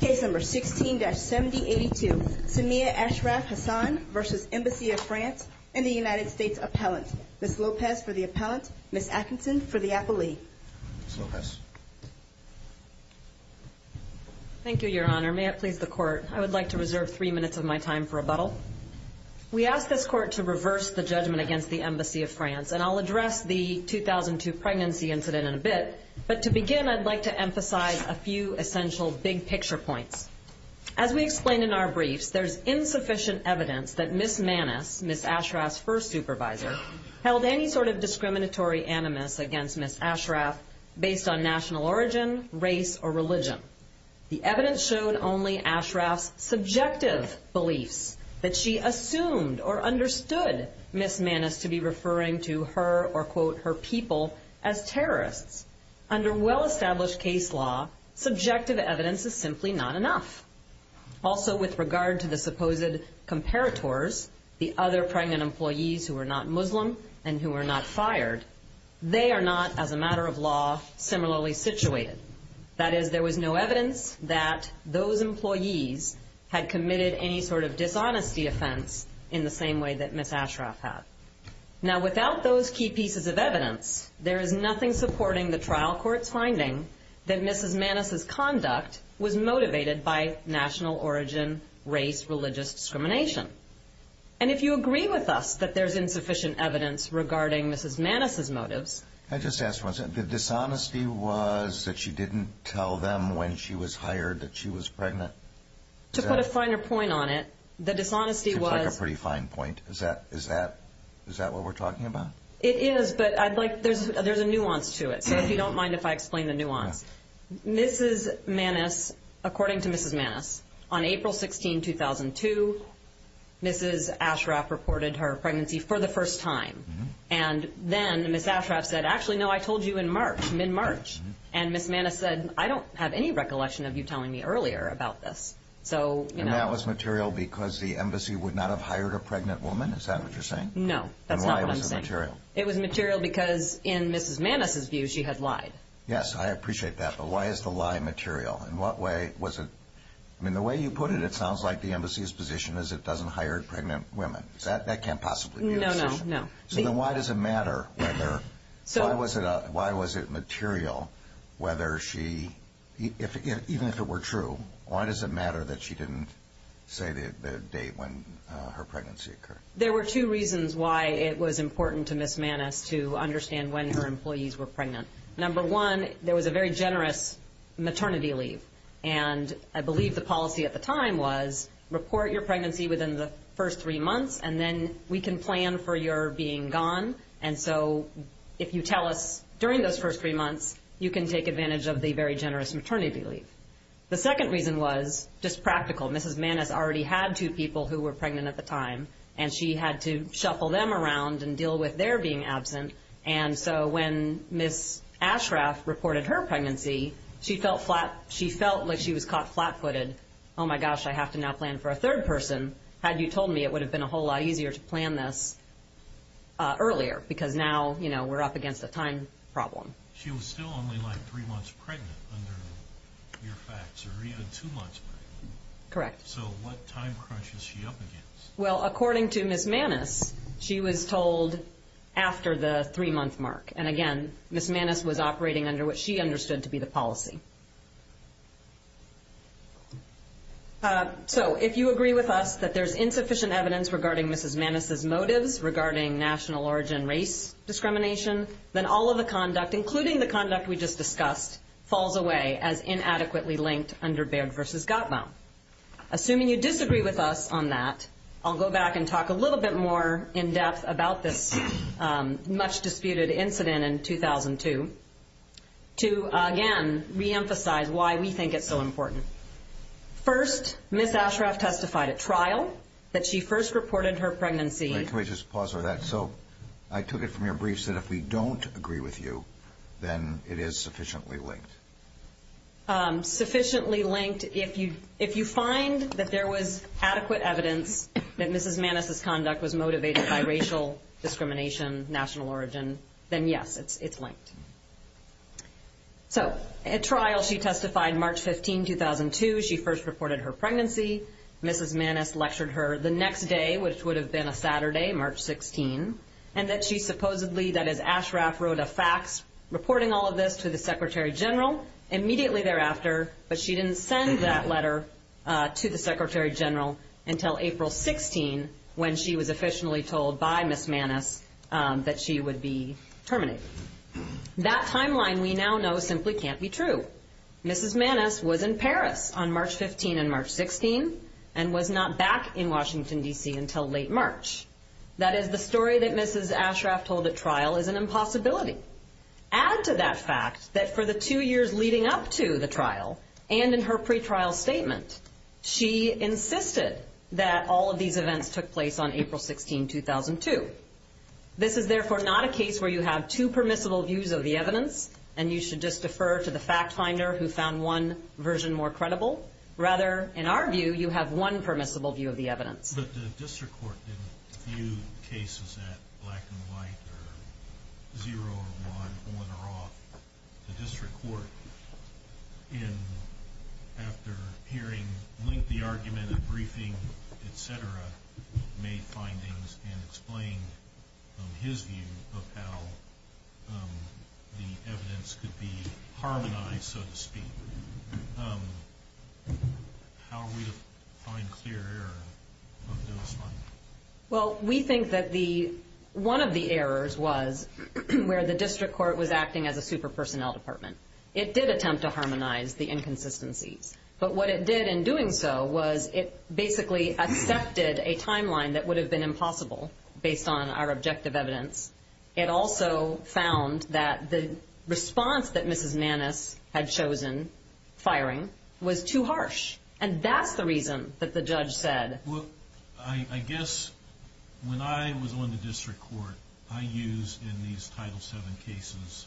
Case No. 16-7082, Saima Ashraf-Hassan v. Embassy of France and the United States Appellant. Ms. Lopez for the Appellant, Ms. Atkinson for the Appellee. Ms. Lopez. Thank you, Your Honor. May it please the Court, I would like to reserve three minutes of my time for rebuttal. We ask this Court to reverse the judgment against the Embassy of France, and I'll address the 2002 pregnancy incident in a bit. But to begin, I'd like to emphasize a few essential big-picture points. As we explained in our briefs, there's insufficient evidence that Ms. Maness, Ms. Ashraf's first supervisor, held any sort of discriminatory animus against Ms. Ashraf based on national origin, race, or religion. The evidence showed only Ashraf's subjective beliefs, that she assumed or understood Ms. Maness to be referring to her or, quote, her people as terrorists. Under well-established case law, subjective evidence is simply not enough. Also, with regard to the supposed comparators, the other pregnant employees who were not Muslim and who were not fired, they are not, as a matter of law, similarly situated. That is, there was no evidence that those employees had committed any sort of dishonesty offense in the same way that Ms. Ashraf had. Now, without those key pieces of evidence, there is nothing supporting the trial court's finding that Ms. Maness's conduct was motivated by national origin, race, religious discrimination. And if you agree with us that there's insufficient evidence regarding Ms. Maness's motives... I just asked once, the dishonesty was that she didn't tell them when she was hired that she was pregnant? To put a finer point on it, the dishonesty was... Seems like a pretty fine point. Is that what we're talking about? It is, but there's a nuance to it, so if you don't mind if I explain the nuance. Ms. Maness, according to Ms. Maness, on April 16, 2002, Ms. Ashraf reported her pregnancy for the first time. And then Ms. Ashraf said, actually, no, I told you in March, mid-March. And Ms. Maness said, I don't have any recollection of you telling me earlier about this. And that was material because the embassy would not have hired a pregnant woman? Is that what you're saying? No, that's not what I'm saying. Then why was it material? It was material because, in Ms. Maness's view, she had lied. Yes, I appreciate that, but why is the lie material? In what way was it... I mean, the way you put it, it sounds like the embassy's position is it doesn't hire pregnant women. That can't possibly be your position. No, no, no. So then why does it matter whether... Why was it material whether she... Even if it were true, why does it matter that she didn't say the date when her pregnancy occurred? There were two reasons why it was important to Ms. Maness to understand when her employees were pregnant. Number one, there was a very generous maternity leave. And I believe the policy at the time was report your pregnancy within the first three months, and then we can plan for your being gone. And so if you tell us during those first three months, you can take advantage of the very generous maternity leave. The second reason was just practical. Mrs. Maness already had two people who were pregnant at the time, and she had to shuffle them around and deal with their being absent. And so when Ms. Ashraf reported her pregnancy, she felt like she was caught flat-footed. Oh, my gosh, I have to now plan for a third person. Had you told me, it would have been a whole lot easier to plan this earlier, because now we're up against a time problem. She was still only, like, three months pregnant under your facts, or even two months pregnant. Correct. So what time crunch is she up against? Well, according to Ms. Maness, she was told after the three-month mark. And, again, Ms. Maness was operating under what she understood to be the policy. So if you agree with us that there's insufficient evidence regarding Mrs. Maness' motives, regarding national origin race discrimination, then all of the conduct, including the conduct we just discussed, falls away as inadequately linked under Baird v. Gottbaum. Assuming you disagree with us on that, I'll go back and talk a little bit more in depth about this much-disputed incident in 2002 to, again, reemphasize why we think it's so important. First, Ms. Ashraf testified at trial that she first reported her pregnancy. Can we just pause for that? So I took it from your briefs that if we don't agree with you, then it is sufficiently linked. If you find that there was adequate evidence that Mrs. Maness' conduct was motivated by racial discrimination, national origin, then, yes, it's linked. So at trial, she testified March 15, 2002. She first reported her pregnancy. Mrs. Maness lectured her the next day, which would have been a Saturday, March 16, and that she supposedly, that is, Ashraf wrote a fax reporting all of this to the Secretary General immediately thereafter, but she didn't send that letter to the Secretary General until April 16, when she was officially told by Ms. Maness that she would be terminated. That timeline we now know simply can't be true. Mrs. Maness was in Paris on March 15 and March 16 and was not back in Washington, D.C., until late March. That is, the story that Mrs. Ashraf told at trial is an impossibility. Add to that fact that for the two years leading up to the trial and in her pretrial statement, she insisted that all of these events took place on April 16, 2002. This is, therefore, not a case where you have two permissible views of the evidence and you should just defer to the fact finder who found one version more credible. Rather, in our view, you have one permissible view of the evidence. But the district court didn't view cases at black and white or zero or one, on or off. The district court, after hearing, linked the argument at briefing, et cetera, made findings and explained his view of how the evidence could be harmonized, so to speak. How are we to find clear error on this one? Well, we think that one of the errors was where the district court was acting as a super-personnel department. It did attempt to harmonize the inconsistencies. But what it did in doing so was it basically accepted a timeline that would have been impossible based on our objective evidence. It also found that the response that Mrs. Maness had chosen, firing, was too harsh. And that's the reason that the judge said. Well, I guess when I was on the district court, I used in these Title VII cases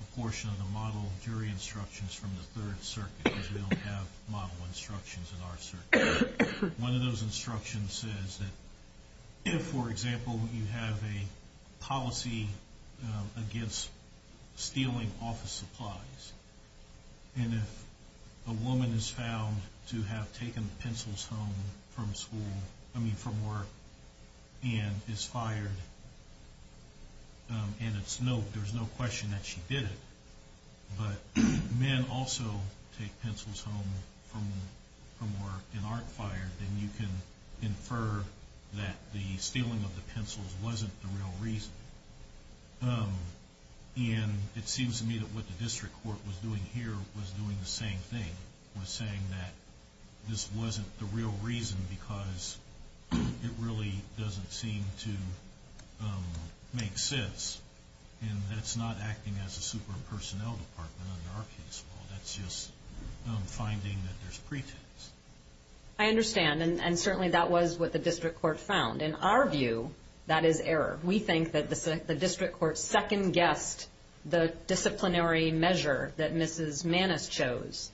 a portion of the model jury instructions from the Third Circuit, because we don't have model instructions in our circuit. One of those instructions says that if, for example, you have a policy against stealing office supplies, and if a woman is found to have taken the pencils home from work and is fired, and there's no question that she did it, but men also take pencils home from work and aren't fired, then you can infer that the stealing of the pencils wasn't the real reason. And it seems to me that what the district court was doing here was doing the same thing, was saying that this wasn't the real reason because it really doesn't seem to make sense. And that's not acting as a super-personnel department under our case law. That's just finding that there's pretext. I understand, and certainly that was what the district court found. In our view, that is error. We think that the district court second-guessed the disciplinary measure that Mrs. Maness chose,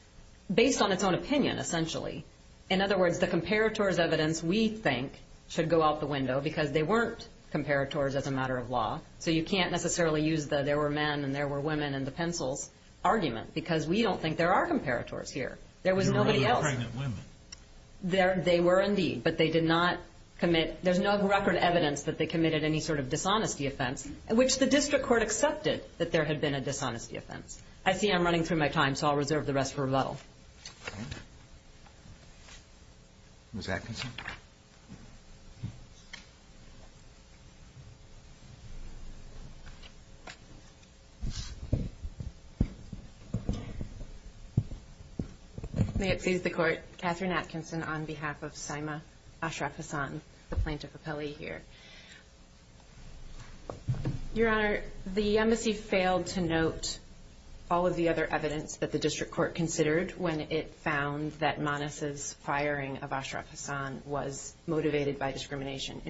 based on its own opinion, essentially. In other words, the comparator's evidence, we think, should go out the window because they weren't comparators as a matter of law. So you can't necessarily use the there were men and there were women and the pencils argument because we don't think there are comparators here. There was nobody else. They were pregnant women. They were indeed, but they did not commit. There's no record evidence that they committed any sort of dishonesty offense, which the district court accepted that there had been a dishonesty offense. I see I'm running through my time, so I'll reserve the rest for rebuttal. Ms. Atkinson. May it please the Court. Catherine Atkinson on behalf of Saima Ashraf Hassan, the plaintiff appellee here. Your Honor, the embassy failed to note all of the other evidence that the district court considered when it found that Maness' firing of Ashraf Hassan was motivated by discrimination.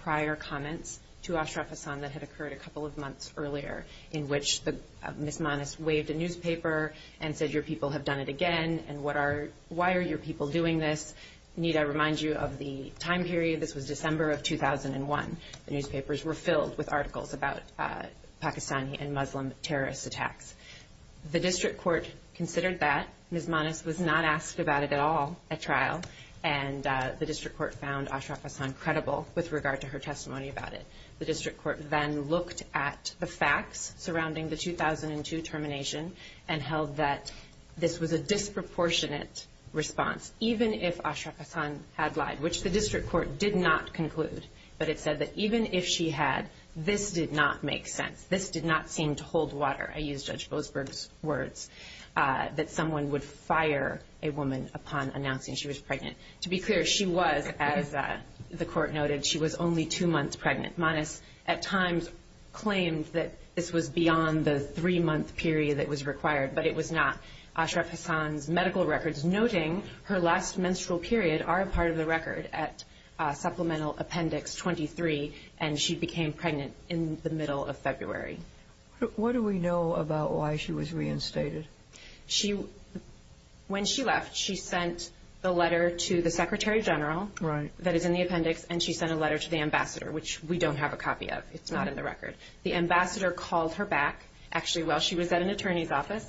prior comments to Ashraf Hassan that had occurred a couple of months earlier, in which Ms. Maness waved a newspaper and said, Your people have done it again, and why are your people doing this? Need I remind you of the time period? This was December of 2001. The newspapers were filled with articles about Pakistani and Muslim terrorist attacks. The district court considered that. Ms. Maness was not asked about it at all at trial, and the district court found Ashraf Hassan credible with regard to her testimony about it. The district court then looked at the facts surrounding the 2002 termination and held that this was a disproportionate response, even if Ashraf Hassan had lied, which the district court did not conclude. But it said that even if she had, this did not make sense. This did not seem to hold water. I use Judge Boasberg's words that someone would fire a woman upon announcing she was pregnant. To be clear, she was, as the court noted, she was only two months pregnant. Maness at times claimed that this was beyond the three-month period that was required, but it was not. Ashraf Hassan's medical records noting her last menstrual period are a part of the record at Supplemental Appendix 23, and she became pregnant in the middle of February. What do we know about why she was reinstated? When she left, she sent the letter to the secretary general that is in the appendix, and she sent a letter to the ambassador, which we don't have a copy of. It's not in the record. The ambassador called her back, actually while she was at an attorney's office,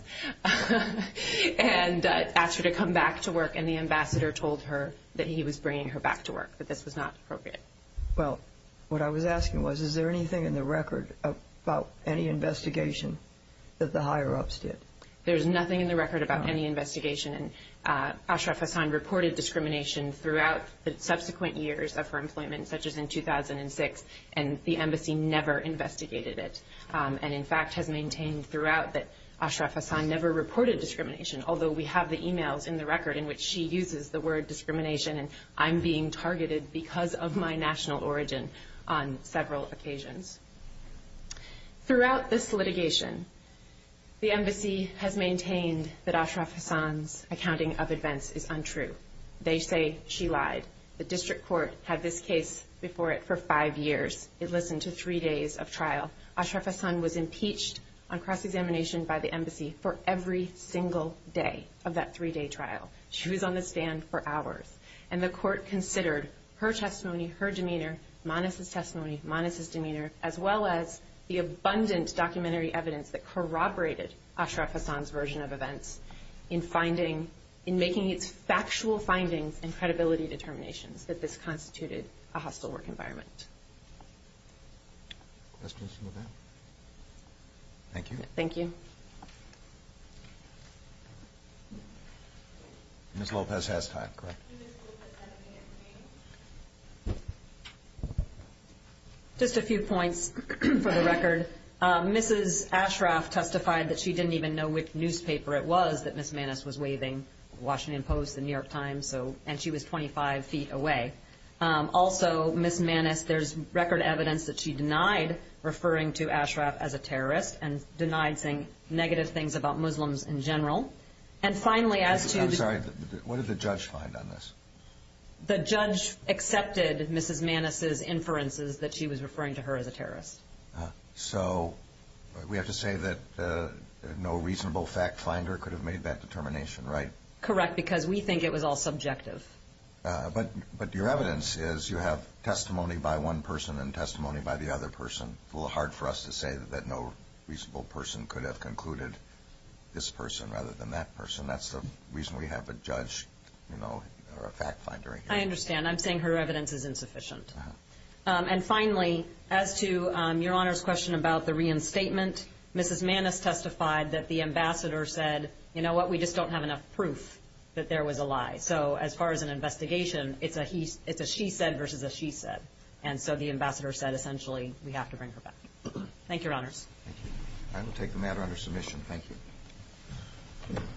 and asked her to come back to work, and the ambassador told her that he was bringing her back to work, that this was not appropriate. Well, what I was asking was, is there anything in the record about any investigation that the higher-ups did? There's nothing in the record about any investigation. Ashraf Hassan reported discrimination throughout the subsequent years of her employment, such as in 2006, and the embassy never investigated it, and in fact has maintained throughout that Ashraf Hassan never reported discrimination, although we have the e-mails in the record in which she uses the word discrimination, and I'm being targeted because of my national origin on several occasions. Throughout this litigation, the embassy has maintained that Ashraf Hassan's accounting of events is untrue. They say she lied. The district court had this case before it for five years. It listened to three days of trial. Ashraf Hassan was impeached on cross-examination by the embassy for every single day of that three-day trial. She was on the stand for hours. And the court considered her testimony, her demeanor, Manas' testimony, Manas' demeanor, as well as the abundant documentary evidence that corroborated Ashraf Hassan's version of events in making its factual findings and credibility determinations that this constituted a hostile work environment. Questions from the panel? Thank you. Thank you. Ms. Lopez has time. Correct. Just a few points for the record. Mrs. Ashraf testified that she didn't even know which newspaper it was that Ms. Manas was waving, the Washington Post, the New York Times, and she was 25 feet away. Also, Ms. Manas, there's record evidence that she denied referring to Ashraf as a terrorist and denied saying negative things about Muslims in general. And finally, as to the – I'm sorry. What did the judge find on this? The judge accepted Mrs. Manas' inferences that she was referring to her as a terrorist. So we have to say that no reasonable fact finder could have made that determination, right? Correct, because we think it was all subjective. But your evidence is you have testimony by one person and testimony by the other person. It's a little hard for us to say that no reasonable person could have concluded this person rather than that person. That's the reason we have a judge, you know, or a fact finder here. I understand. I'm saying her evidence is insufficient. And finally, as to Your Honor's question about the reinstatement, Mrs. Manas testified that the ambassador said, you know what, we just don't have enough proof that there was a lie. So as far as an investigation, it's a she said versus a she said. And so the ambassador said essentially we have to bring her back. Thank you, Your Honors. Thank you. I will take the matter under submission. Thank you.